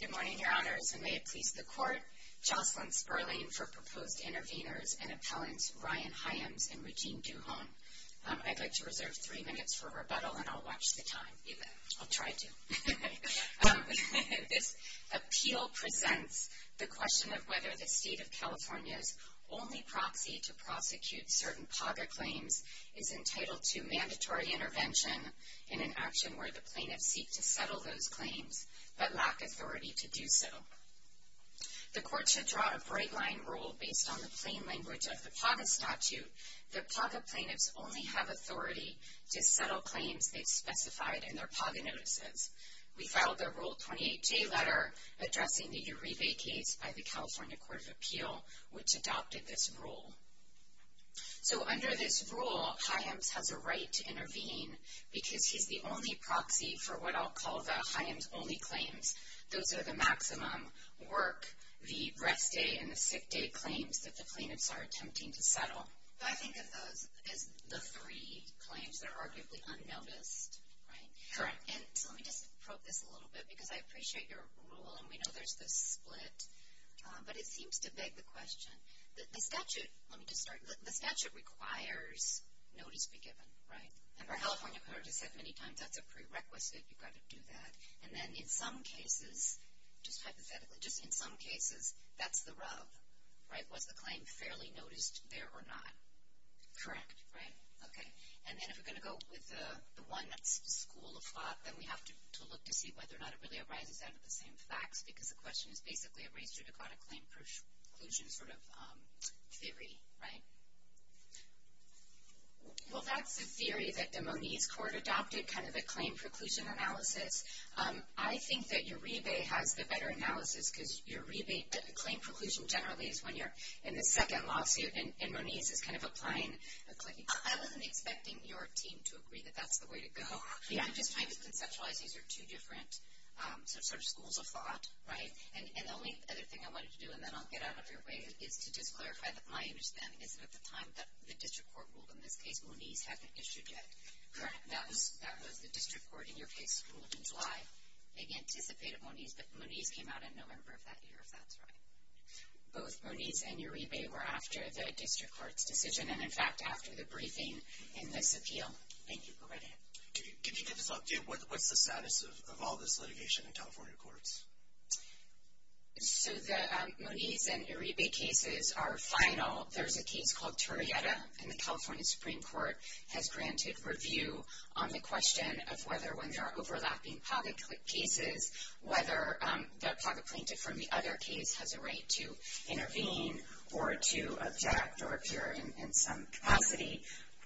Good morning, Your Honors, and may it please the Court, Jocelyn Sperling for proposed interveners and appellants Ryan Hyams and Regine Duhon. I'd like to reserve three minutes for rebuttal and I'll watch the time. I'll try to. This appeal presents the question of whether the state of California's only proxy to prosecute certain poverty claims is entitled to mandatory intervention in an appellant's claims, but lack authority to do so. The Court should draw a bright-line rule based on the plain language of the PAGA statute that PAGA plaintiffs only have authority to settle claims they've specified in their PAGA notices. We filed a Rule 28J letter addressing the Uribe case by the California Court of Appeal, which adopted this rule. So under this rule, Hyams has a because he's the only proxy for what I'll call the Hyams-only claims. Those are the maximum work, the rest day and the sick day claims that the plaintiffs are attempting to settle. I think of those as the three claims that are arguably unnoticed. Correct. And so let me just probe this a little bit because I appreciate your rule and we know there's this split, but it seems to beg the question that the statute, let me just start, the statute requires notice be California Court has said many times that's a prerequisite, you've got to do that. And then in some cases, just hypothetically, just in some cases, that's the rub, right? Was the claim fairly noticed there or not? Correct. Right. Okay. And then if we're going to go with the one that's school of thought, then we have to look to see whether or not it really arises out of the same facts because the question is basically a race judicata claim conclusion sort of theory, right? Well, that's the theory that the Moniz court adopted, kind of a claim preclusion analysis. I think that your rebate has the better analysis because your rebate, the claim preclusion generally is when you're in the second lawsuit and Moniz is kind of applying a claim. I wasn't expecting your team to agree that that's the way to go. I'm just trying to conceptualize these are two different sort of schools of thought, right? And the only other thing I wanted to do and then I'll get out of your way is to just clarify that my understanding is that at the time that the district court ruled in this case, Moniz hadn't issued yet. Correct. That was the district court in your case ruled in July. They anticipated Moniz, but Moniz came out in November of that year, if that's right. Both Moniz and your rebate were after the district court's decision and in fact after the briefing in this appeal. Thank you. Go right ahead. Can you give us what's the status of all this litigation in California courts? So the Moniz and rebate cases are final. There's a case called Turrieta and the California Supreme Court has granted review on the question of whether when there are overlapping pocket cases, whether the pocket plaintiff from the other case has a right to intervene or to object or appear in some capacity.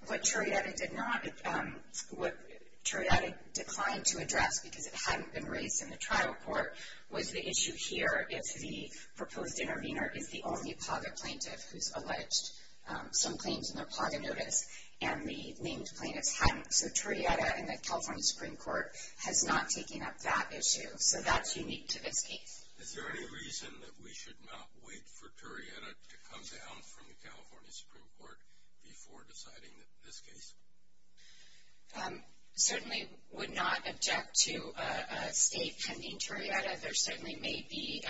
What Turrieta did not, what Turrieta declined to address because it hadn't been raised in the trial court, was the issue here if the proposed intervener is the only pocket plaintiff who's alleged some claims in their pocket notice and the named plaintiffs hadn't. So Turrieta and the California Supreme Court has not taken up that issue. So that's unique to this case. Is there any reason that we should not wait for Turrieta to come down from the California Supreme Court before deciding this case? Certainly would not object to a state pending Turrieta. There certainly may be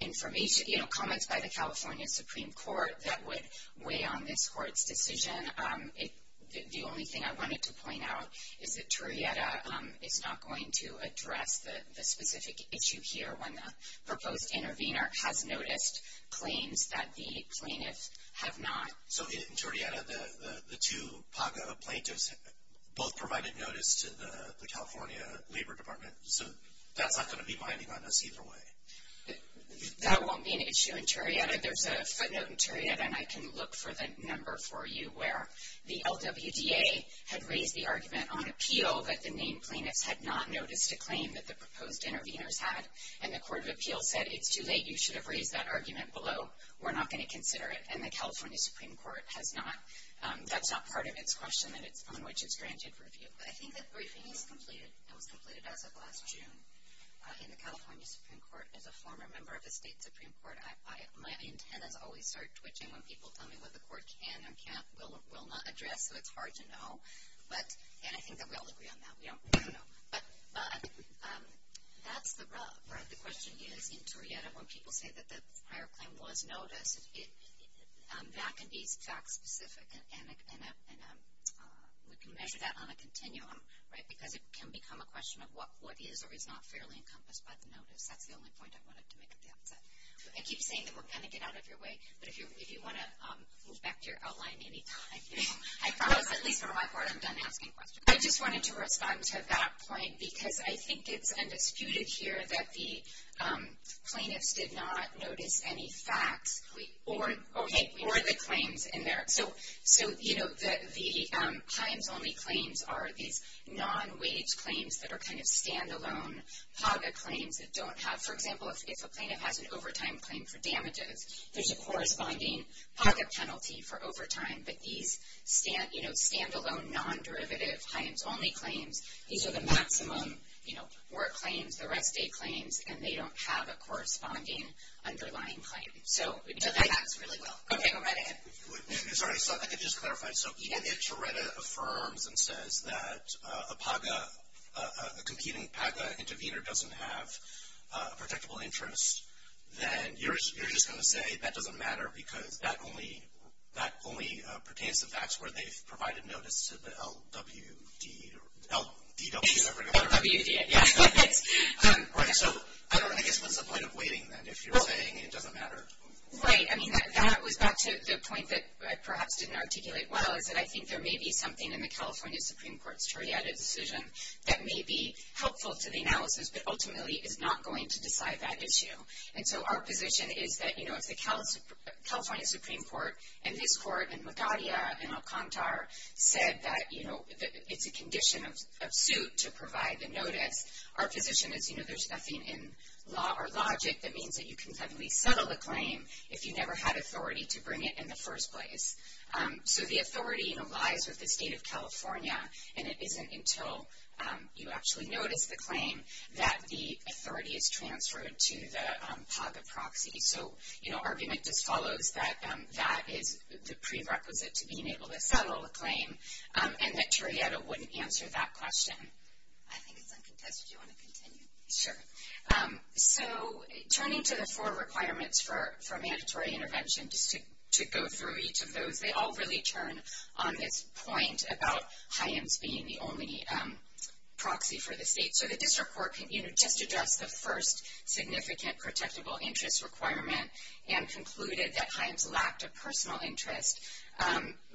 information, you know, comments by the California Supreme Court that would weigh on this court's decision. The only thing I wanted to point out is that Turrieta is not going to address the specific issue here when the proposed intervener has noticed claims that the name plaintiffs had not noticed a claim that the proposed interveners had and the Court of Appeals said it's too late, you should have raised that argument below. We're not going to consider it and the California Supreme Court has not. That's not part of its question that it's on which it's granted review. I think that briefing is completed. It was completed as of last June in the California Supreme Court as a former member of the state Supreme Court. My antennas always start twitching when people tell me what the court can and can't, will not address so it's hard to know. But, and I think that we all agree on that. But that's the rub. The question is, in Turrieta, when people say that the prior claim was noticed, that can be fact-specific and we can measure that on a continuum, right? Because it can become a question of what is or is not fairly encompassed by the notice. That's the only point I wanted to make at the outset. I keep saying that we're going to get out of your way, but if you want to move back to your outline anytime, I promise, at least for my part, I'm done asking questions. I just wanted to respond to that point because I think it's undisputed here that the plaintiffs did not notice any facts or the claims in there. So, you know, the Himes-only claims are these non-wage claims that are kind of stand-alone POGA claims that don't have, for example, if a plaintiff has an overtime claim for damages, there's a corresponding POGA penalty for overtime, but these, you know, stand-alone, non-derivative Himes-only claims, these are the maximum, you know, work claims, the rest stay claims, and they don't have a corresponding underlying claim. So, that's really well. Okay, go right ahead. Sorry, so I could just clarify. So, even if Tereda affirms and says that a POGA, a competing POGA intervener doesn't have a protectable interest, then you're just going to say that doesn't matter because that only pertains to facts where they've provided notice to the LWD, L-D-W, is that right? LWD, yeah. Right, so I don't know, I guess what's the point of waiting then if you're saying it doesn't matter? Right, I mean, that was back to the point that I perhaps didn't articulate well, is that I think there may be something in the California Supreme Court's Tereda decision that may be helpful to the analysis, but ultimately is not going to decide that issue. And so, our position is that, you know, if the California Supreme Court and this court and Magadia and Alcantara said that, you know, it's a condition of suit to provide the notice, our position is, you know, there's nothing in law or logic that means that you can suddenly settle the claim if you never had authority to bring it in the first place. So, the authority, you know, lies with the state of California and it isn't until you actually notice the claim that the authority is transferred to the PAGA proxy. So, you know, argument just follows that that is the prerequisite to being able to settle the claim and that Tereda wouldn't answer that question. I think it's uncontested, do you want to continue? Sure. So, turning to the four requirements for mandatory intervention, just to go through each of those, they all really turn on this point about Hyams being the only proxy for the state. So, the district court, you know, just addressed the first significant protectable interest requirement and concluded that Hyams lacked a personal interest,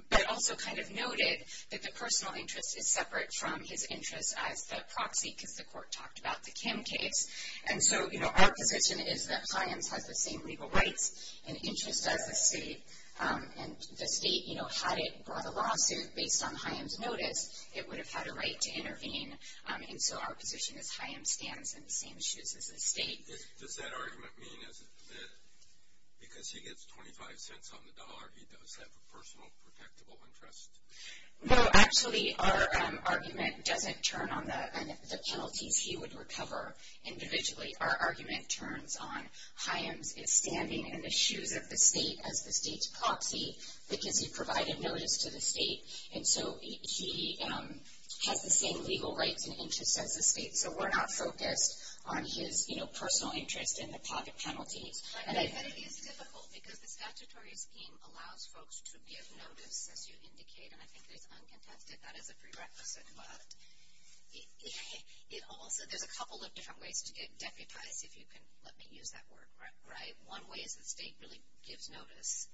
but also kind of noted that the personal interest is separate from his interest as the proxy because the court talked about the Kim case. And so, you know, our position is that Hyams has the same legal rights and interest as the state, and the state, you know, had it brought a lawsuit based on Hyams' notice, it would have had a right to intervene. And so, our position is Hyams stands in the same shoes as the state. Does that argument mean that because he gets 25 cents on the dollar, he does have a personal protectable interest? No, actually, our argument doesn't turn on the penalties he would recover individually. Our argument turns on Hyams' standing in the shoes of the state as the state's proxy because he provided notice to the state, and so he has the same legal rights and interest as the state. So, we're not focused on his, you know, personal interest in the pocket penalties. But it is difficult because the statutory scheme allows folks to give notice, as you indicate, and I think it is uncontested. That is a prerequisite, but it also, there's a couple of different ways to get deputized, if you can let me use that word right. One way is the state really gives notice,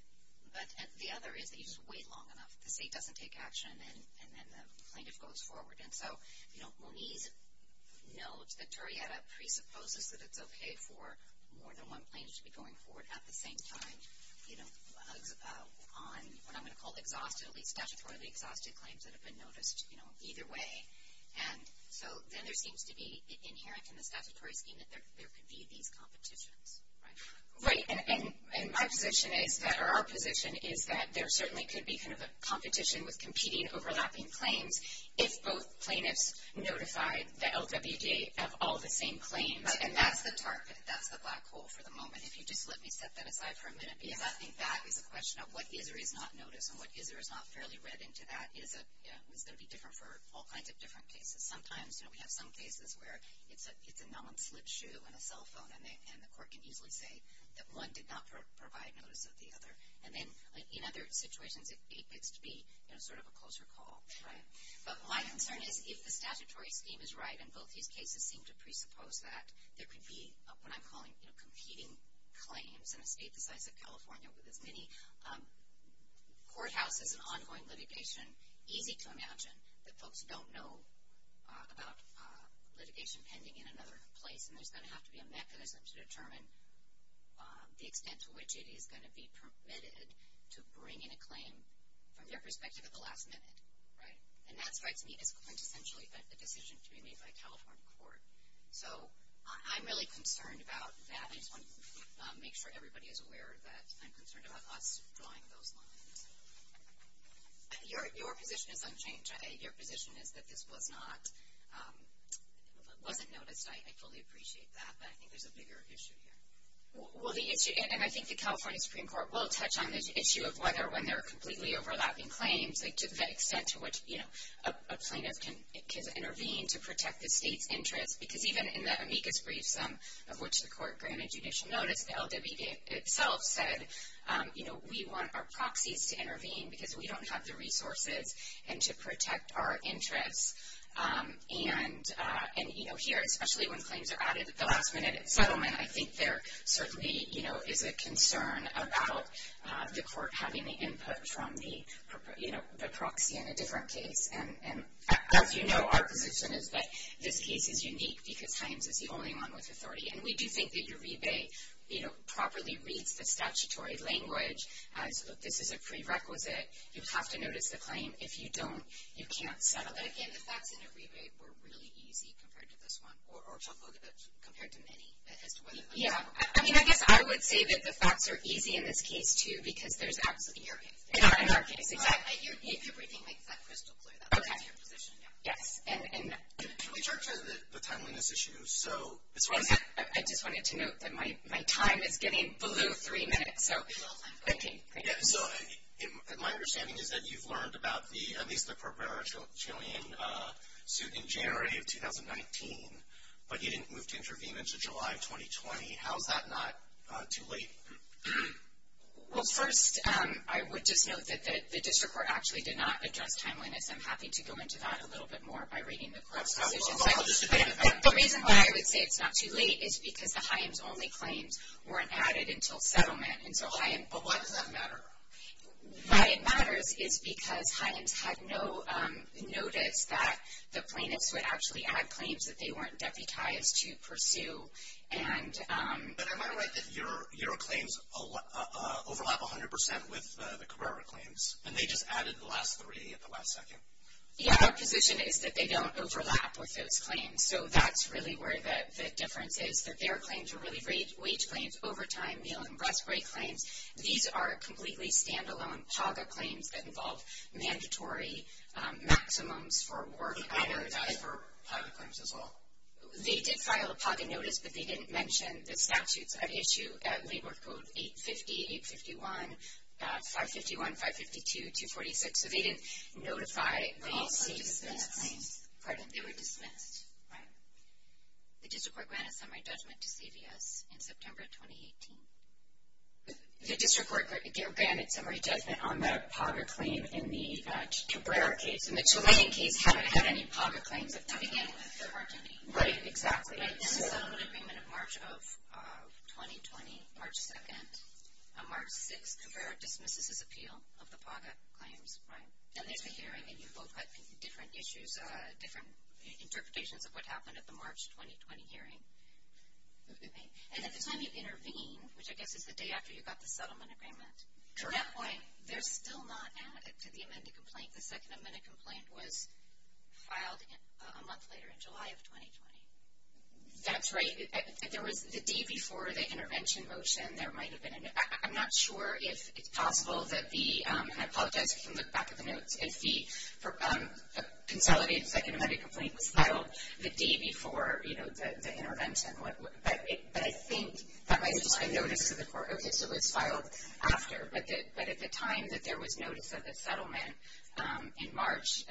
but the other is that you just wait long enough. The state doesn't take action, and then the plaintiff goes forward. And so, you know, Moniz notes that Toretta presupposes that it's okay for more than one plaintiff to be going forward at the same time. You know, on what I'm going to call statutorily exhausted claims that have been noticed, you know, either way. And so, then there seems to be inherent in the statutory scheme that there could be these competitions, right? Right. And my position is that, or our position is that there certainly could be kind of a competition with competing overlapping claims if both plaintiffs notified the LWJ of all the same claims. Right. And that's the target. That's the black hole for the moment. If you just let me set that aside for a minute, because I think that is a question of what is or is not noticed, and what is or is not fairly read into that is going to be different for all kinds of different cases. Sometimes, you know, we have some cases where it's a non-slip shoe and a cell phone, and the court can easily say that one did not provide notice of the other. And then, in other situations, it gets to be, you know, sort of a closer call. Right. But my concern is if the statutory scheme is right, and both these cases seem to presuppose that, there could be what I'm calling competing claims in a state the size of California with as many courthouses and ongoing litigation, easy to imagine, that folks don't know about litigation pending in another place. And there's going to have to be a mechanism to determine the extent to which it is going to be permitted to bring in a claim from their perspective at the last minute. Right. And that strikes me as quintessentially a decision to be made by a California court. So I'm really concerned about that. I just want to make sure everybody is aware that I'm concerned about us drawing those lines. Your position is unchanged. Your position is that this was not, you know, it wasn't noticed. I fully appreciate that, but I think there's a bigger issue here. Well, the issue, and I think the California Supreme Court will touch on this issue of whether when they're completely overlapping claims, like to the extent to which, you know, a plaintiff can intervene to protect the state's interest. Because even in the amicus briefsum of which the court granted judicial notice, the LWB itself said, you know, we want our proxies to intervene because we don't have the resources and to protect our interests. And, you know, here, especially when claims are added at the last minute at settlement, I think there certainly, you know, is a concern about the court having the input from the, you know, the proxy in a different case. And as you know, our position is that this case is unique because Hines is the only one with authority. And we do think that your rebate, you know, properly reads the statutory language as this is a prerequisite. You have to notice the claim. If you don't, you can't settle. But, again, the facts in your rebate were really easy compared to this one, or to look at it compared to many as to whether they were. Yeah. I mean, I guess I would say that the facts are easy in this case, too, because there's absolutely. In your case. In our case, exactly. If everything makes that crystal clear, that's your position, yeah. Okay. Yes. And. We talked about the timeliness issue, so. I just wanted to note that my time is getting below three minutes, so. Okay. Great. So, my understanding is that you've learned about the, at least the Corberra-Chilean suit in January of 2019, but you didn't move to intervene until July of 2020. How is that not too late? Well, first, I would just note that the district court actually did not address timeliness. I'm happy to go into that a little bit more by reading the class decisions. Well, I'll just. The reason why I would say it's not too late is because the Hyams-only claims weren't added until settlement, and so Hyams. But why does that matter? Why it matters is because Hyams had no notice that the plaintiffs would actually add claims that they weren't deputized to pursue, and. But am I right that your claims overlap 100% with the Corberra claims, and they just added the last three at the last second? Yeah, our position is that they don't overlap with those claims. So, that's really where the difference is, that their claims are really wage claims, overtime, meal, and breast-break claims. These are completely stand-alone PAGA claims that involve mandatory maximums for work. But they're not deputized for PAGA claims as well? They did file a PAGA notice, but they didn't mention the statutes at issue at Labor Code 850, 851, 551, 552, 246. So, they didn't notify the CVS. They were also dismissed. Pardon? They were dismissed. Right. The district court granted summary judgment to CVS in September 2018. The district court granted summary judgment on the PAGA claim in the Corberra case, and the Tulane case hadn't had any PAGA claims. To begin with, there weren't any. Right, exactly. In the settlement agreement of March of 2020, March 2nd, on March 6th, Corberra dismisses his appeal of the PAGA claims. Right. And there's a hearing, and you both had different issues, different interpretations of what happened at the March 2020 hearing. And at the time you intervene, which I guess is the day after you got the settlement agreement, at that point, they're still not added to the amended complaint. The second amended complaint was filed a month later in July of 2020. That's right. If there was the day before the intervention motion, there might have been a note. I'm not sure if it's possible that the – and I apologize if you can look back at the notes – if the consolidated second amended complaint was filed the day before, you know, the intervention. But I think that might just be a notice to the court. Okay, so it was filed after. But at the time that there was notice of the settlement in March,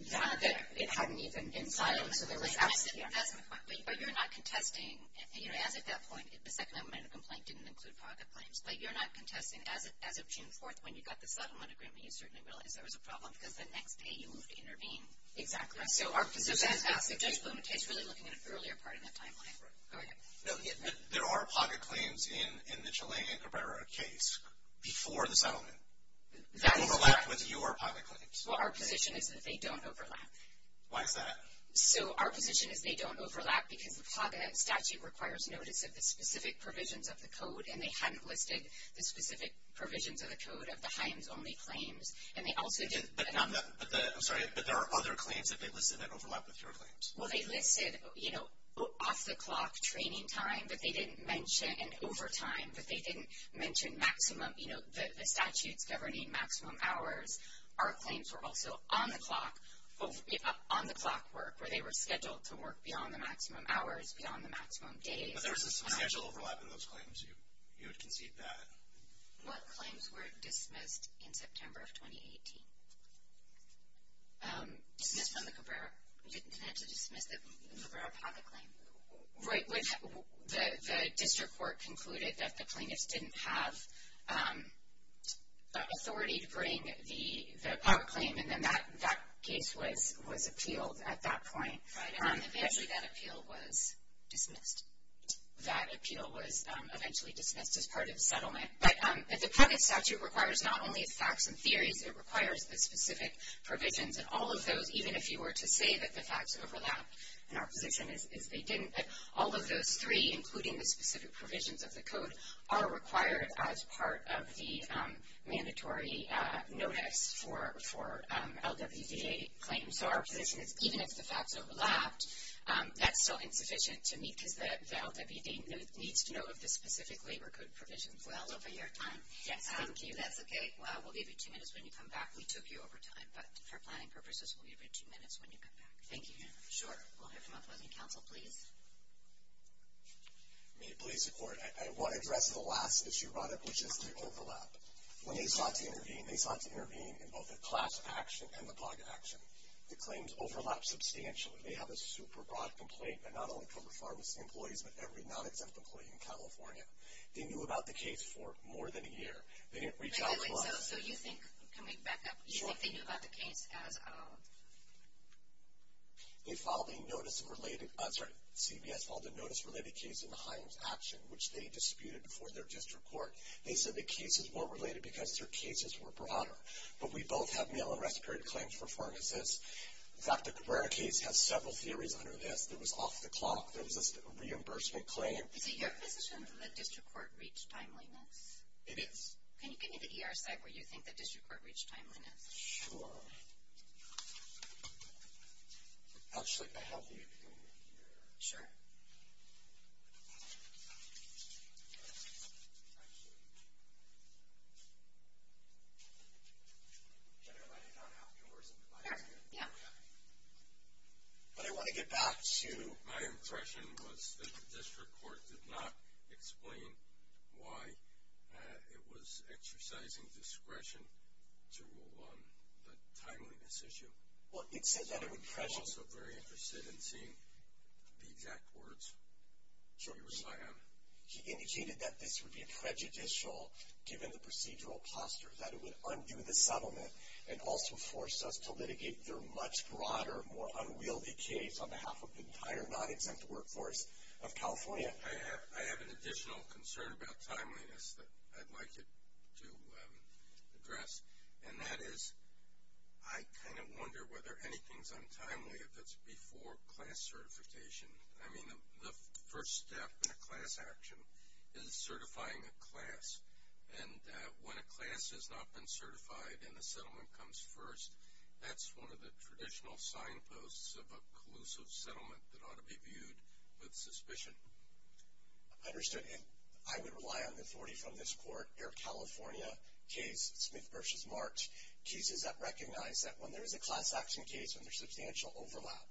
it hadn't even been filed. So there was absence. That's my point. But you're not contesting, you know, as at that point, the second amended complaint didn't include pocket claims. But you're not contesting as of June 4th when you got the settlement agreement, you certainly realized there was a problem because the next day you moved to intervene. Exactly. So Judge Bumate is really looking at an earlier part of that timeline. Go ahead. There are pocket claims in the Chalang and Cabrera case before the settlement. That is correct. They overlap with your pocket claims. Well, our position is that they don't overlap. Why is that? So our position is they don't overlap because the pocket statute requires notice of the specific provisions of the code, and they hadn't listed the specific provisions of the code of the Hines-only claims. And they also didn't – I'm sorry, but there are other claims that they listed that overlap with your claims. Well, they listed, you know, off-the-clock training time that they didn't mention, and overtime that they didn't mention maximum, you know, the statutes governing maximum hours. Our claims were also on-the-clock work, where they were scheduled to work beyond the maximum hours, beyond the maximum days. But there was a substantial overlap in those claims. You would concede that. What claims were dismissed in September of 2018? Dismissed from the Cabrera. We didn't have to dismiss the Cabrera pocket claim. Right. The district court concluded that the plaintiffs didn't have authority to bring the pocket claim, and then that case was appealed at that point. Right, and eventually that appeal was dismissed. That appeal was eventually dismissed as part of the settlement. But the pocket statute requires not only facts and theories, it requires the specific provisions. And all of those, even if you were to say that the facts overlapped, and our position is they didn't, but all of those three, including the specific provisions of the code, are required as part of the mandatory notice for LWDA claims. So our position is even if the facts overlapped, that's still insufficient to meet because the LWDA needs to know of the specific labor code provisions. Well, over your time. Yes, thank you. That's okay. We'll give you two minutes when you come back. We took you over time, but for planning purposes, we'll give you two minutes when you come back. Thank you. Sure. We'll hear from opposing counsel, please. May it please the Court. I want to address the last issue, Roderick, which is the overlap. When they sought to intervene, they sought to intervene in both the class action and the pocket action. The claims overlapped substantially. They have a super broad complaint, and not only from the pharmacy employees, but every non-exempt employee in California. They knew about the case for more than a year. They didn't reach out to us. So you think, can we back up? You think they knew about the case as of? They filed a notice-related, sorry, CVS filed a notice-related case in the Himes action, which they disputed before their district court. They said the cases weren't related because their cases were broader. But we both have mail-and-rest period claims for pharmacists. In fact, the Cabrera case has several theories under this. There was off-the-clock. There was a reimbursement claim. Is it your position that district court reached timeliness? It is. Can you give me the ER site where you think the district court reached timeliness? Sure. Actually, I have the email here. Sure. But I want to get back to my impression was that the district court did not explain why it was exercising discretion to rule on the timeliness issue. Well, it said that it would prejudice. I'm also very interested in seeing the exact words. Sure. You can rely on it. He indicated that this would be prejudicial given the procedural posture, that it would undo the settlement and also force us to litigate their much broader, more unwieldy case on behalf of the entire non-exempt workforce of California. I have an additional concern about timeliness that I'd like to address, and that is I kind of wonder whether anything is untimely if it's before class certification. I mean, the first step in a class action is certifying a class, and when a class has not been certified and the settlement comes first, that's one of the traditional signposts of a collusive settlement that ought to be Understood, and I would rely on the authority from this court, Air California case, Smith v. March, cases that recognize that when there is a class action case and there's substantial overlap,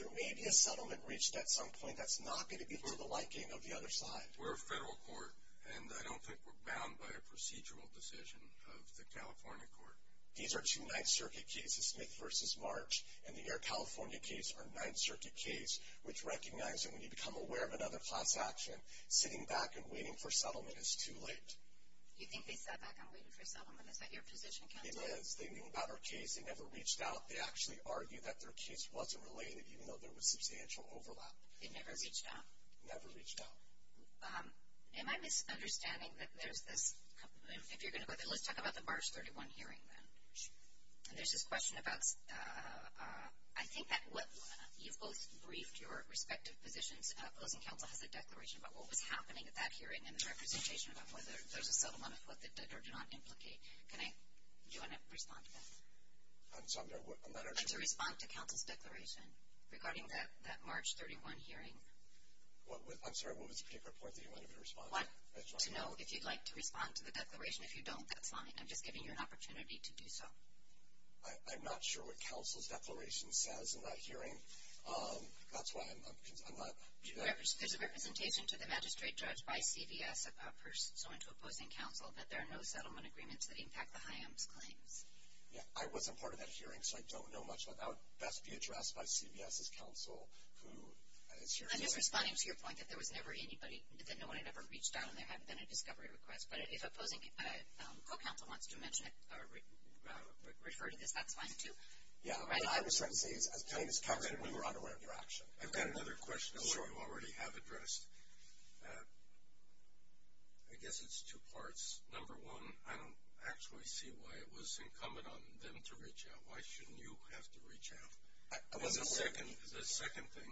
there may be a settlement reached at some point that's not going to be to the liking of the other side. We're a federal court, and I don't think we're bound by a procedural decision of the California court. These are two Ninth Circuit cases, Smith v. March, and the Air California case are Ninth Circuit case, which recognize that when you become aware of another class action, sitting back and waiting for settlement is too late. You think they sat back and waited for settlement? Is that your position, counsel? It is. They knew about our case. They never reached out. They actually argued that their case wasn't related, even though there was substantial overlap. They never reached out? Never reached out. Am I misunderstanding that there's this, if you're going to go there, let's talk about the March 31 hearing then. There's this question about, I think that you've both briefed your respective positions. Closing counsel has a declaration about what was happening at that hearing and the representation about whether there's a settlement of what they did or did not implicate. Do you want to respond to that? I'm not sure. I'd like to respond to counsel's declaration regarding that March 31 hearing. I'm sorry, what was the particular point that you wanted me to respond to? To know if you'd like to respond to the declaration. If you don't, that's fine. I'm just giving you an opportunity to do so. I'm not sure what counsel's declaration says in that hearing. That's why I'm not. There's a representation to the magistrate judge by CVS of a person so into opposing counsel that there are no settlement agreements that impact the HIAMS claims. Yeah, I wasn't part of that hearing, so I don't know much about that. That would best be addressed by CVS's counsel. I'm just responding to your point that there was never anybody, that no one had ever reached out and there hadn't been a discovery request. But if opposing co-counsel wants to mention it or refer to this, that's fine too. Yeah. I was telling this counsel that we were unaware of your action. I've got another question that we already have addressed. I guess it's two parts. Number one, I don't actually see why it was incumbent on them to reach out. Why shouldn't you have to reach out? The second thing,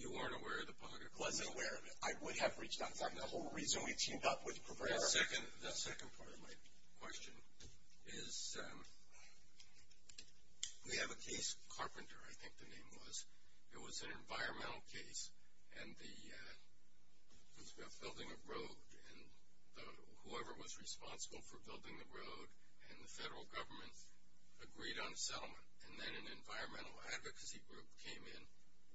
you weren't aware of the public request? I wasn't aware of it. I would have reached out. The whole reason we teamed up with Provera. The second part of my question is we have a case, Carpenter, I think the name was. It was an environmental case, and it was about building a road. And whoever was responsible for building the road and the federal government agreed on settlement. And then an environmental advocacy group came in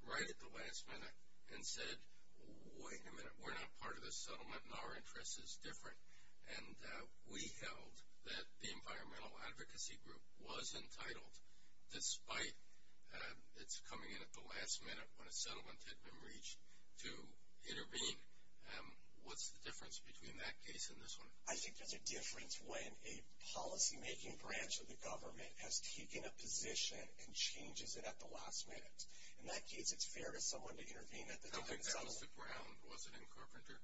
right at the last minute and said, wait a minute, we're not part of this settlement, and our interest is different. And we held that the environmental advocacy group was entitled, despite its coming in at the last minute when a settlement had been reached, to intervene. What's the difference between that case and this one? I think there's a difference when a policymaking branch of the government has taken a position and changes it at the last minute. In that case, it's fair to someone to intervene at the time of settlement. I think that was the ground, was it, in Carpenter?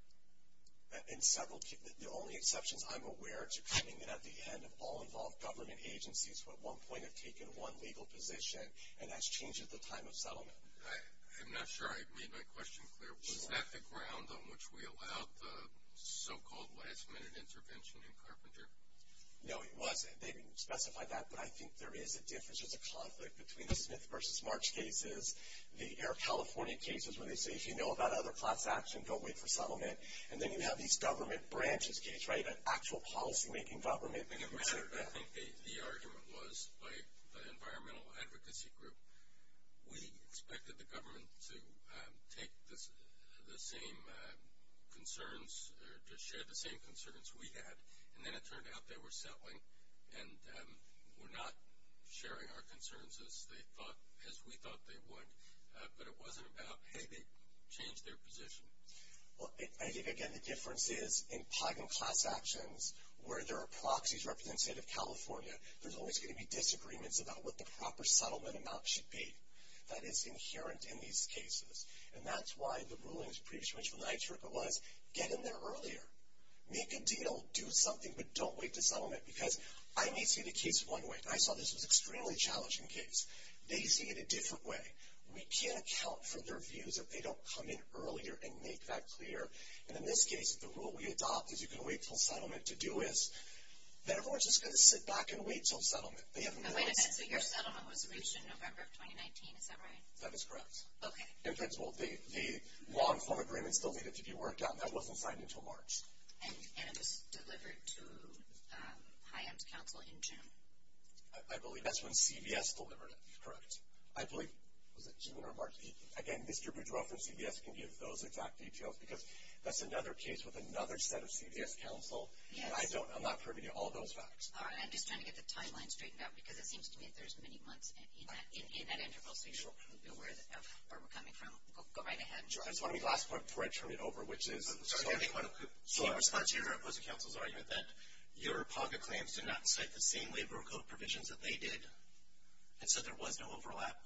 The only exceptions I'm aware to coming in at the end of all involved government agencies who at one point have taken one legal position, and that's changed at the time of settlement. I'm not sure I made my question clear. Was that the ground on which we allowed the so-called last-minute intervention in Carpenter? No, it wasn't. They didn't specify that, but I think there is a difference. Like between the Smith v. March cases, the Air California cases, where they say, if you know about other class action, don't wait for settlement. And then you have these government branches case, right, an actual policymaking government. It mattered. I think the argument was by the environmental advocacy group, we expected the government to take the same concerns or to share the same concerns we had. And then it turned out they were settling and were not sharing our concerns as they thought, as we thought they would. But it wasn't about, hey, they changed their position. Well, I think, again, the difference is in Pagan class actions, where there are proxies representing the state of California, there's always going to be disagreements about what the proper settlement amount should be. That is inherent in these cases. And that's why the rulings of the previous mention of NYCHA was, get in there earlier. Make a deal. Do something. But don't wait to settlement. Because I may see the case one way. I saw this as an extremely challenging case. They see it a different way. We can't account for their views if they don't come in earlier and make that clear. And in this case, the rule we adopt is you can wait until settlement to do this. Then everyone's just going to sit back and wait until settlement. They haven't done this. Wait a minute. So your settlement was reached in November of 2019. Is that right? That is correct. Okay. In principle, the law and form agreements still needed to be worked out. And that wasn't signed until March. And it was delivered to HIEM's counsel in June. I believe that's when CVS delivered it. Correct. I believe, was it June or March? Again, Mr. Boudreau from CVS can give those exact details. Because that's another case with another set of CVS counsel. And I'm not privy to all those facts. All right. I'm just trying to get the timeline straightened out. Because it seems to me that there's many months in that interval. So you should probably be aware of where we're coming from. Go right ahead. I just want to make the last point before I turn it over, which is. So in response to your opposing counsel's argument, that your PACA claims did not cite the same labor code provisions that they did. And so there was no overlap.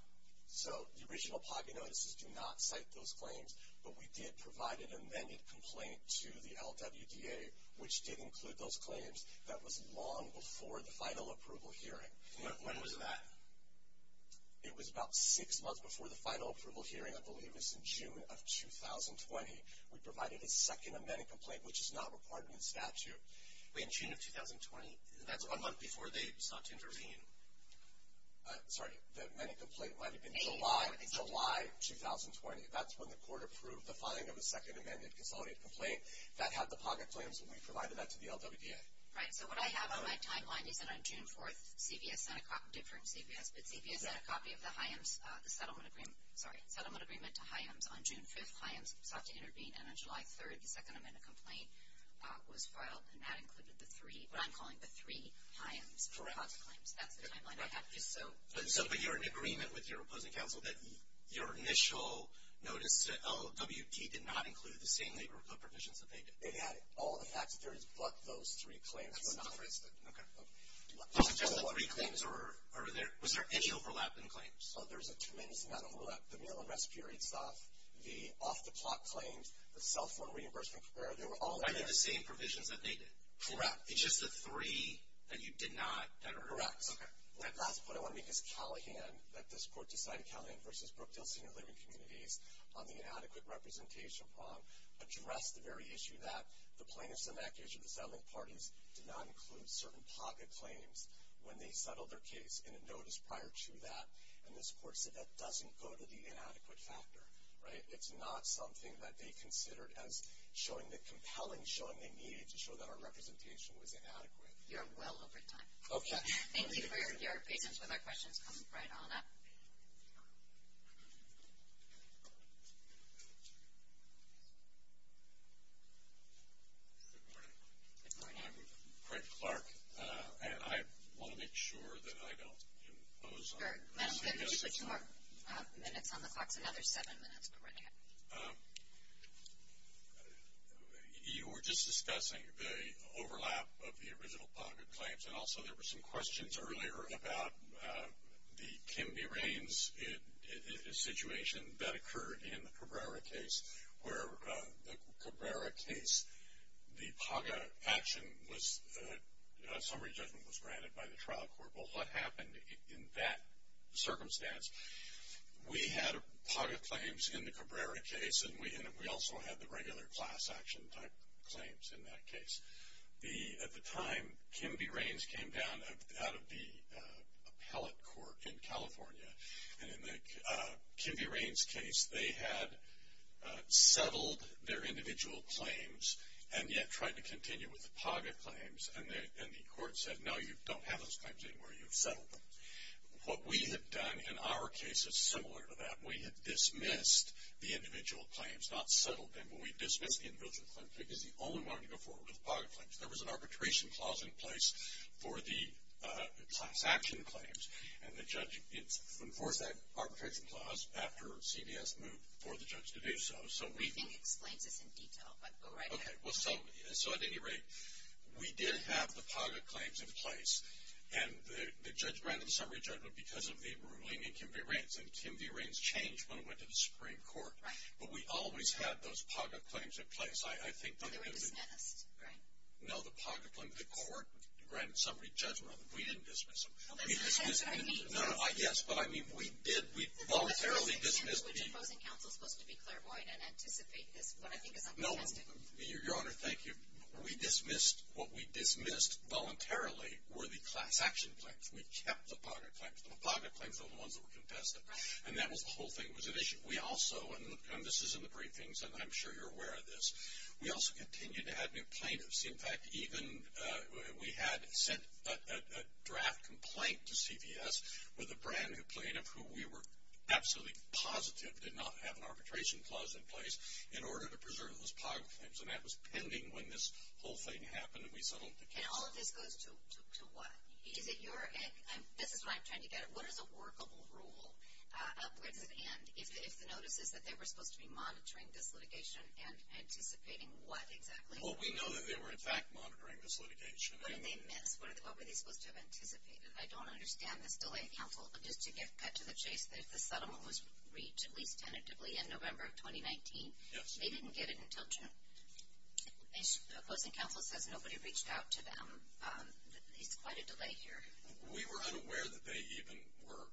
So the original PACA notices do not cite those claims. But we did provide an amended complaint to the LWDA, which did include those claims that was long before the final approval hearing. When was that? It was about six months before the final approval hearing, I believe. It was in June of 2020. We provided a second amended complaint, which is not required in the statute. Wait. In June of 2020? That's one month before they sought to intervene. Sorry. The amended complaint might have been July, July 2020. That's when the court approved the filing of a second amended consolidated complaint. That had the PACA claims. We provided that to the LWDA. Right. So what I have on my timeline is that on June 4th, CVS sent a copy. CVS sent a copy of the HIEMS settlement agreement. Sorry. Settlement agreement to HIEMS on June 5th. HIEMS sought to intervene. And on July 3rd, the second amended complaint was filed. And that included the three, what I'm calling the three HIEMS PACA claims. That's the timeline I have. But you're in agreement with your opposing counsel that your initial notice to LWT did not include the same labor code provisions that they did. They had all the facts. There is but those three claims. Okay. Was there any overlap in claims? Oh, there's a tremendous amount of overlap. The meal and rest period stuff, the off-the-clock claims, the cell phone reimbursement. They were all there. Are they the same provisions that they did? Correct. It's just the three that you did not cover? Correct. Okay. Last point I want to make is Callahan, that this court decided, Callahan v. Brookdale Senior Living Communities, on the inadequate representation prong, addressed the very issue that the plaintiffs in that case or the settling parties did not include certain PACA claims when they settled their case in a notice prior to that. And this court said that doesn't go to the inadequate factor. Right? It's not something that they considered as showing the compelling showing they needed to show that our representation was inadequate. You're well over time. Okay. Thank you for your patience with our questions coming right on up. Thank you. Good morning. Good morning. I'm Craig Clark, and I want to make sure that I don't impose on you. Madam Clerk, if you could put two more minutes on the clocks, another seven minutes. Go right ahead. You were just discussing the overlap of the original PACA claims, and also there were some questions earlier about the Kim B. Raines situation that occurred in the Cabrera case, where the Cabrera case, the PACA action was a summary judgment was granted by the trial court. Well, what happened in that circumstance? We had PACA claims in the Cabrera case, and we also had the regular class action type claims in that case. At the time, Kim B. Raines came down out of the appellate court in California. And in the Kim B. Raines case, they had settled their individual claims, and yet tried to continue with the PACA claims. And the court said, no, you don't have those claims anymore. You've settled them. What we had done in our case is similar to that. We had dismissed the individual claims, not settled them, but we dismissed the individual claims because the only one to go forward was PACA claims. There was an arbitration clause in place for the class action claims, and the judge enforced that arbitration clause after CBS moved for the judge to do so. The briefing explains this in detail, but go right ahead. So, at any rate, we did have the PACA claims in place, and the judge granted the summary judgment because of the ruling in Kim B. Raines, and Kim B. Raines changed when it went to the Supreme Court. Right. But we always had those PACA claims in place. They were dismissed, right? No, the PACA claims, the court granted summary judgment on them. We didn't dismiss them. Well, let me rephrase it. I mean, yes, but I mean, we did. We voluntarily dismissed the- But that's the only thing, isn't it, which imposing counsel is supposed to be clairvoyant and anticipate this, what I think is uncontested. No, Your Honor, thank you. What we dismissed voluntarily were the class action claims. We kept the PACA claims. The PACA claims are the ones that were contested. Right. And that was the whole thing that was at issue. We also, and this is in the briefings, and I'm sure you're aware of this, we also continued to have new plaintiffs. In fact, even we had sent a draft complaint to CVS with a brand-new plaintiff who we were absolutely positive did not have an arbitration clause in place in order to preserve those PACA claims, and that was pending when this whole thing happened and we settled the case. And all of this goes to what? Is it your, this is where I'm trying to get at, what is a workable rule? Where does it end? If the notice is that they were supposed to be monitoring this litigation and anticipating what exactly? Well, we know that they were, in fact, monitoring this litigation. What did they miss? What were they supposed to have anticipated? I don't understand this delay, counsel, just to get cut to the chase, that the settlement was reached, at least tentatively, in November of 2019. Yes. They didn't get it until June. Imposing counsel says nobody reached out to them. It's quite a delay here. We were unaware that they even were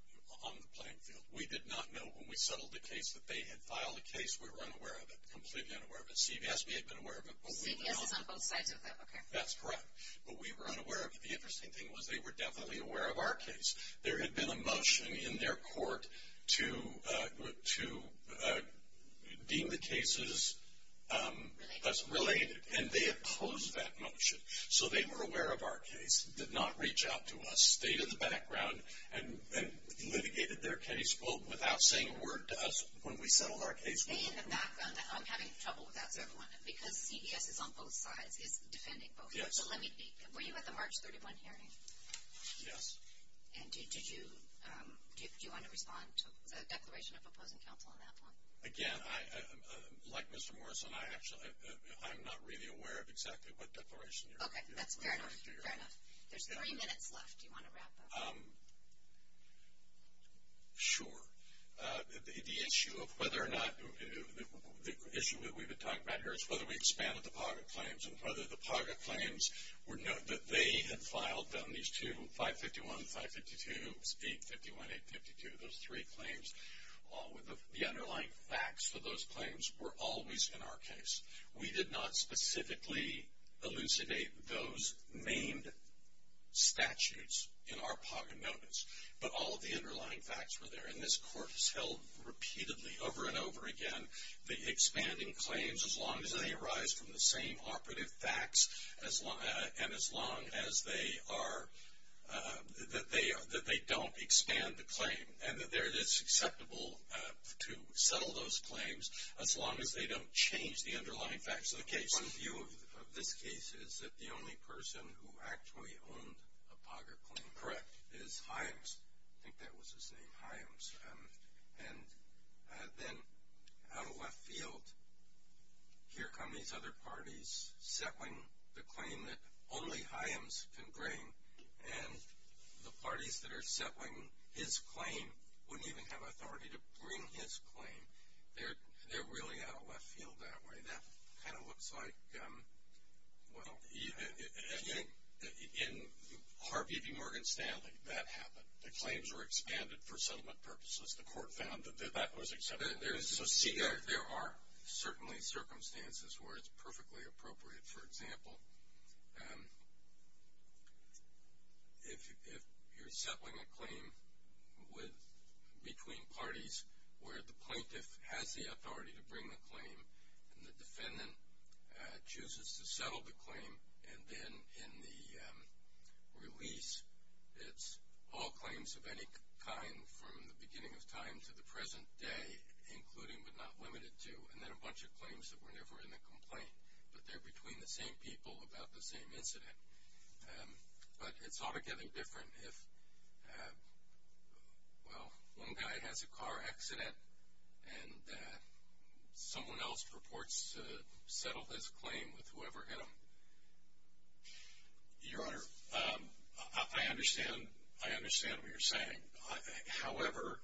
on the playing field. We did not know when we settled the case that they had filed a case. We were unaware of it, completely unaware of it. CVS, we had been aware of it. CVS is on both sides of that, okay. That's correct. But we were unaware of it. The interesting thing was they were definitely aware of our case. There had been a motion in their court to deem the cases as related, and they opposed that motion. So they were aware of our case. They did not reach out to us, stayed in the background, and litigated their case without saying a word to us when we settled our case. Staying in the background, I'm having trouble with that, sir. Because CVS is on both sides, it's defending both. Yes. Were you at the March 31 hearing? Yes. And did you want to respond to the declaration of opposing counsel on that one? Again, like Mr. Morrison, I'm not really aware of exactly what declaration you're referring to. Okay. That's fair enough. Fair enough. There's three minutes left. Do you want to wrap up? Sure. The issue of whether or not the issue that we've been talking about here is whether we expanded the PAGA claims and whether the PAGA claims that they had filed them, these two, 551 and 552, 851, 852, those three claims, all with the underlying facts for those claims were always in our case. We did not specifically elucidate those named statutes in our PAGA notice, but all of the underlying facts were there. And this Court has held repeatedly, over and over again, the expanding claims as long as they arise from the same operative facts and as long as they don't expand the claim and that it is acceptable to settle those claims as long as they don't change the underlying facts of the case. One view of this case is that the only person who actually owned a PAGA claim is Hyams. I think that was his name, Hyams. And then out of left field, here come these other parties settling the claim that only Hyams can bring, and the parties that are settling his claim wouldn't even have authority to bring his claim. They're really out of left field that way. That kind of looks like, well, in Harvey v. Morgan Stanley, that happened. The claims were expanded for settlement purposes. The Court found that that was acceptable. There are certainly circumstances where it's perfectly appropriate. For example, if you're settling a claim between parties where the plaintiff has the authority to bring the claim and the defendant chooses to settle the claim, and then in the release, it's all claims of any kind from the beginning of time to the present day, including but not limited to, and then a bunch of claims that were never in the complaint, but they're between the same people about the same incident. But it's altogether different if, well, one guy has a car accident and that someone else purports to settle this claim with whoever hit him. Your Honor, I understand what you're saying. However,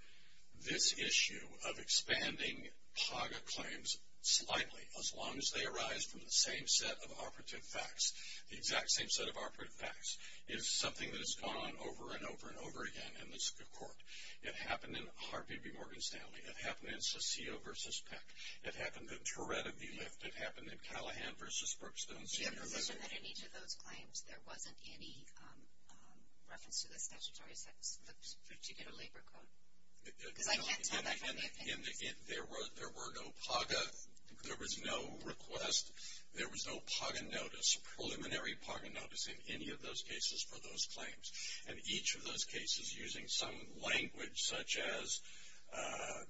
this issue of expanding PAGA claims slightly, as long as they arise from the same set of operative facts, the exact same set of operative facts, is something that has gone on over and over and over again in this Court. It happened in Harvey B. Morgan's family. It happened in Saccio v. Peck. It happened in Tourette v. Lift. It happened in Callahan v. Brookstone. Do you have a position that in each of those claims there wasn't any reference to the statutory sex, the particular labor code? Because I can't tell that from the opinion. There were no PAGA. There was no request. There was no PAGA notice, preliminary PAGA notice, in any of those cases for those claims. And each of those cases using some language, such as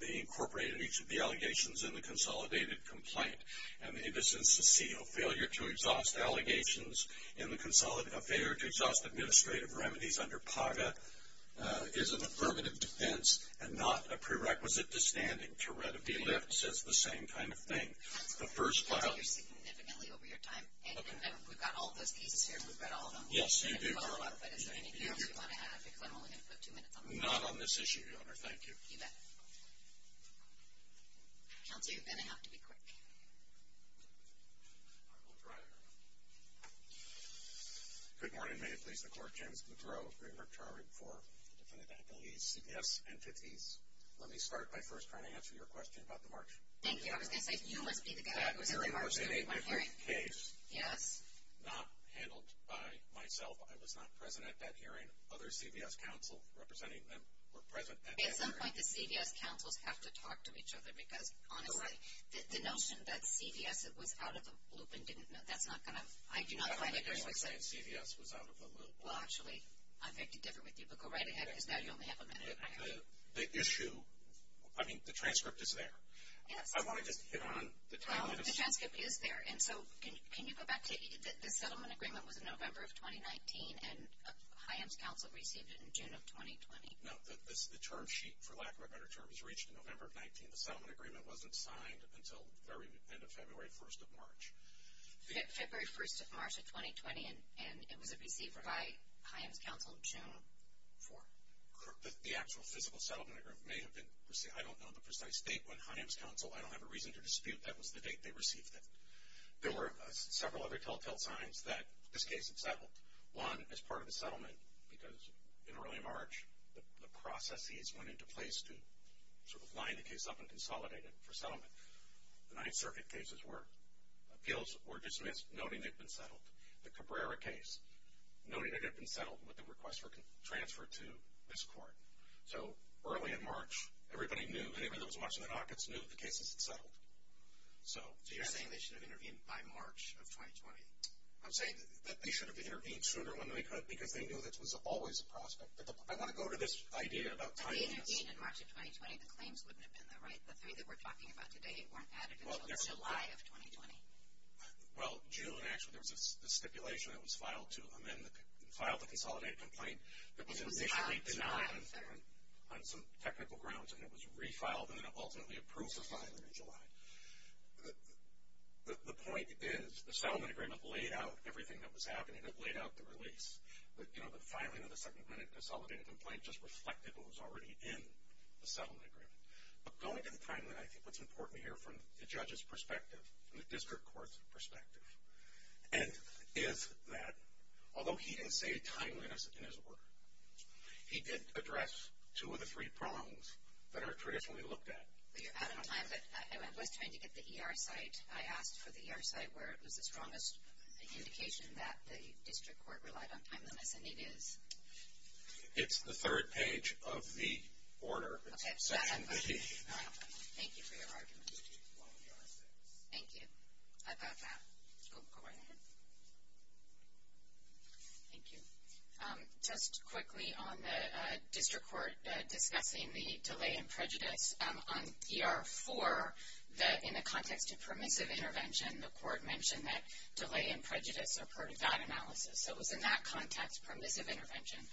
they incorporated each of the allegations in the consolidated complaint. And in the case of Saccio, failure to exhaust allegations in the consolidated, a failure to exhaust administrative remedies under PAGA is an affirmative defense and not a prerequisite to standing. Tourette v. Lift says the same kind of thing. The first file. That's what we've heard here significantly over your time. Okay. And we've got all of those cases here. We've read all of them. Yes, you do. But is there anything else you want to add? Because I'm only going to put two minutes on this. Not on this issue, Your Honor. Thank you. You bet. Counsel, you're going to have to be quick. I will try, Your Honor. Good morning. May it please the Court. James McGrow, Greenberg Chartered for the Defendant Appellees, CPS, and Fifties. Let me start by first trying to answer your question about the march. Thank you. I was going to say you must be the guy who was in the march. My first case, not handled by myself. I was not present at that hearing. Other CVS counsels representing them were present at that hearing. At some point, the CVS counsels have to talk to each other because, honestly, the notion that CVS was out of the loop and didn't know, that's not going to, I do not find it very successful. I don't think you're saying CVS was out of the loop. Well, actually, I'm going to differ with you. But go right ahead because now you only have a minute. The issue, I mean, the transcript is there. Yes. I want to just hit on the timeline. The transcript is there. And so can you go back to the settlement agreement was in November of 2019 and HIAMS counsel received it in June of 2020. No, the term sheet, for lack of a better term, was reached in November of 19. The settlement agreement wasn't signed until the very end of February 1st of March. February 1st of March of 2020, and it was received by HIAMS counsel June 4th. The actual physical settlement agreement may have been received. I don't know the precise date when HIAMS counsel, I don't have a reason to dispute that was the date they received it. There were several other telltale signs that this case had settled. One, as part of the settlement, because in early March, the processes went into place to sort of line the case up and consolidate it for settlement. The Ninth Circuit cases where appeals were dismissed, noting they'd been settled. The Cabrera case, noting it had been settled with the request for transfer to this court. So early in March, everybody knew, anybody that was watching the dockets knew the case had settled. So you're saying they should have intervened by March of 2020? I'm saying that they should have intervened sooner than they could because they knew this was always a prospect. I want to go to this idea about timing. If they intervened in March of 2020, the claims wouldn't have been there, right? The three that we're talking about today weren't added until July of 2020. Well, June, actually, there was a stipulation that was filed to amend, that was initially denied on some technical grounds, and it was refiled, and then it ultimately approved the filing in July. The point is the settlement agreement laid out everything that was happening. It laid out the release. You know, the filing of the Second Amendment consolidated complaint just reflected what was already in the settlement agreement. But going to the timeline, I think what's important to hear from the judge's perspective and the district court's perspective, and is that although he didn't say timeliness in his order, he did address two of the three problems that are traditionally looked at. You're out of time, but I was trying to get the ER site. I asked for the ER site where it was the strongest indication that the district court relied on timeliness, and it is. It's the third page of the order. Okay. Thank you for your argument. Thank you. I got that. Go right ahead. Thank you. Just quickly on the district court discussing the delay in prejudice, on ER 4, in the context of permissive intervention, the court mentioned that delay and prejudice are part of that analysis. So it was in that context, permissive intervention,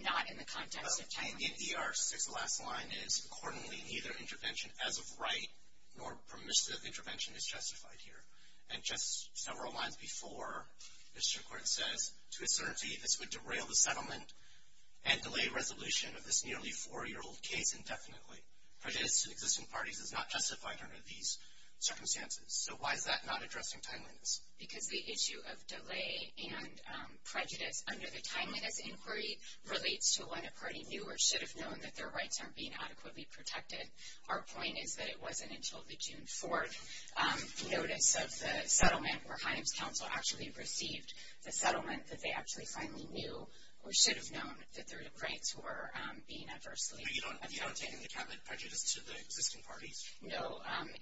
not in the context of timeliness. And in ER 6, the last line is, accordingly neither intervention as of right nor permissive intervention is justified here. And just several lines before, the district court says, to a certainty this would derail the settlement and delay resolution of this nearly four-year-old case indefinitely. Prejudice to existing parties is not justified under these circumstances. So why is that not addressing timeliness? Because the issue of delay and prejudice under the timeliness inquiry relates to when a party knew or should have known that their rights aren't being adequately protected. Our point is that it wasn't until the June 4th notice of the settlement where Himes Council actually received the settlement that they actually finally knew or should have known that there were depraveds who were being adversely affected. But you don't take into account the prejudice to the existing parties? No.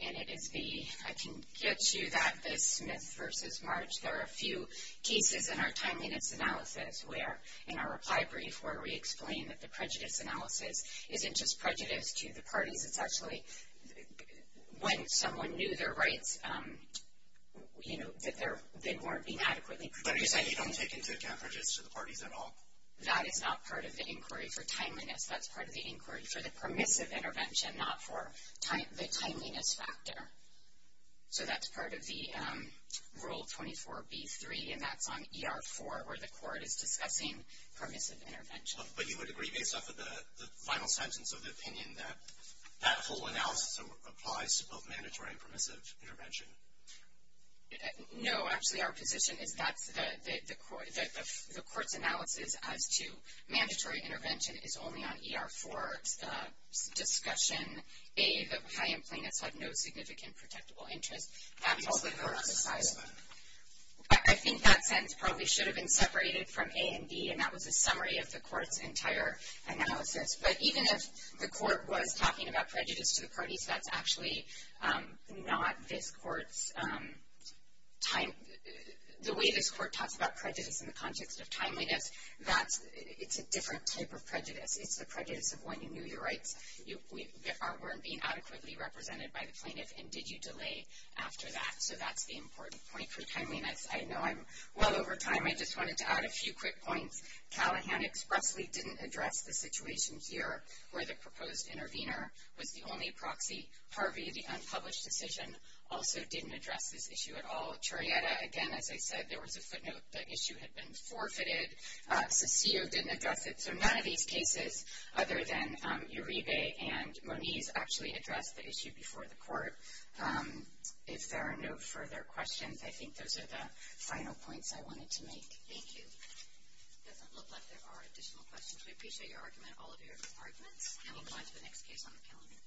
And it is the, I can get to that, the Smith versus March. There are a few cases in our timeliness analysis where in our reply brief where we explain that the prejudice analysis isn't just prejudice to the parties. It's actually when someone knew their rights, you know, that they weren't being adequately protected. But you're saying you don't take into account prejudice to the parties at all? That is not part of the inquiry for timeliness. That's part of the inquiry for the permissive intervention, not for the timeliness factor. So that's part of the Rule 24b-3, and that's on ER-4 where the court is discussing permissive intervention. But you would agree, based off of the final sentence of the opinion, that that whole analysis applies to both mandatory and permissive intervention? No. Actually, our position is that the court's analysis as to mandatory intervention is only on ER-4 discussion. A, the high-end plaintiffs have no significant protectable interest. Absolutely. I think that sentence probably should have been separated from A and B, and that was a summary of the court's entire analysis. But even if the court was talking about prejudice to the parties, that's actually not this court's time. The way this court talks about prejudice in the context of timeliness, it's a different type of prejudice. It's the prejudice of when you knew your rights, weren't being adequately represented by the plaintiff, and did you delay after that. So that's the important point for timeliness. I know I'm well over time. I just wanted to add a few quick points. Callahan expressly didn't address the situation here where the proposed intervener was the only proxy. Harvey, the unpublished decision, also didn't address this issue at all. Charietta, again, as I said, there was a footnote. The issue had been forfeited. Ciccio didn't address it. So none of these cases other than Uribe and Moniz actually addressed the issue before the court. If there are no further questions, I think those are the final points I wanted to make. Thank you. It doesn't look like there are additional questions. We appreciate all of your arguments, and we'll go on to the next case on the calendar.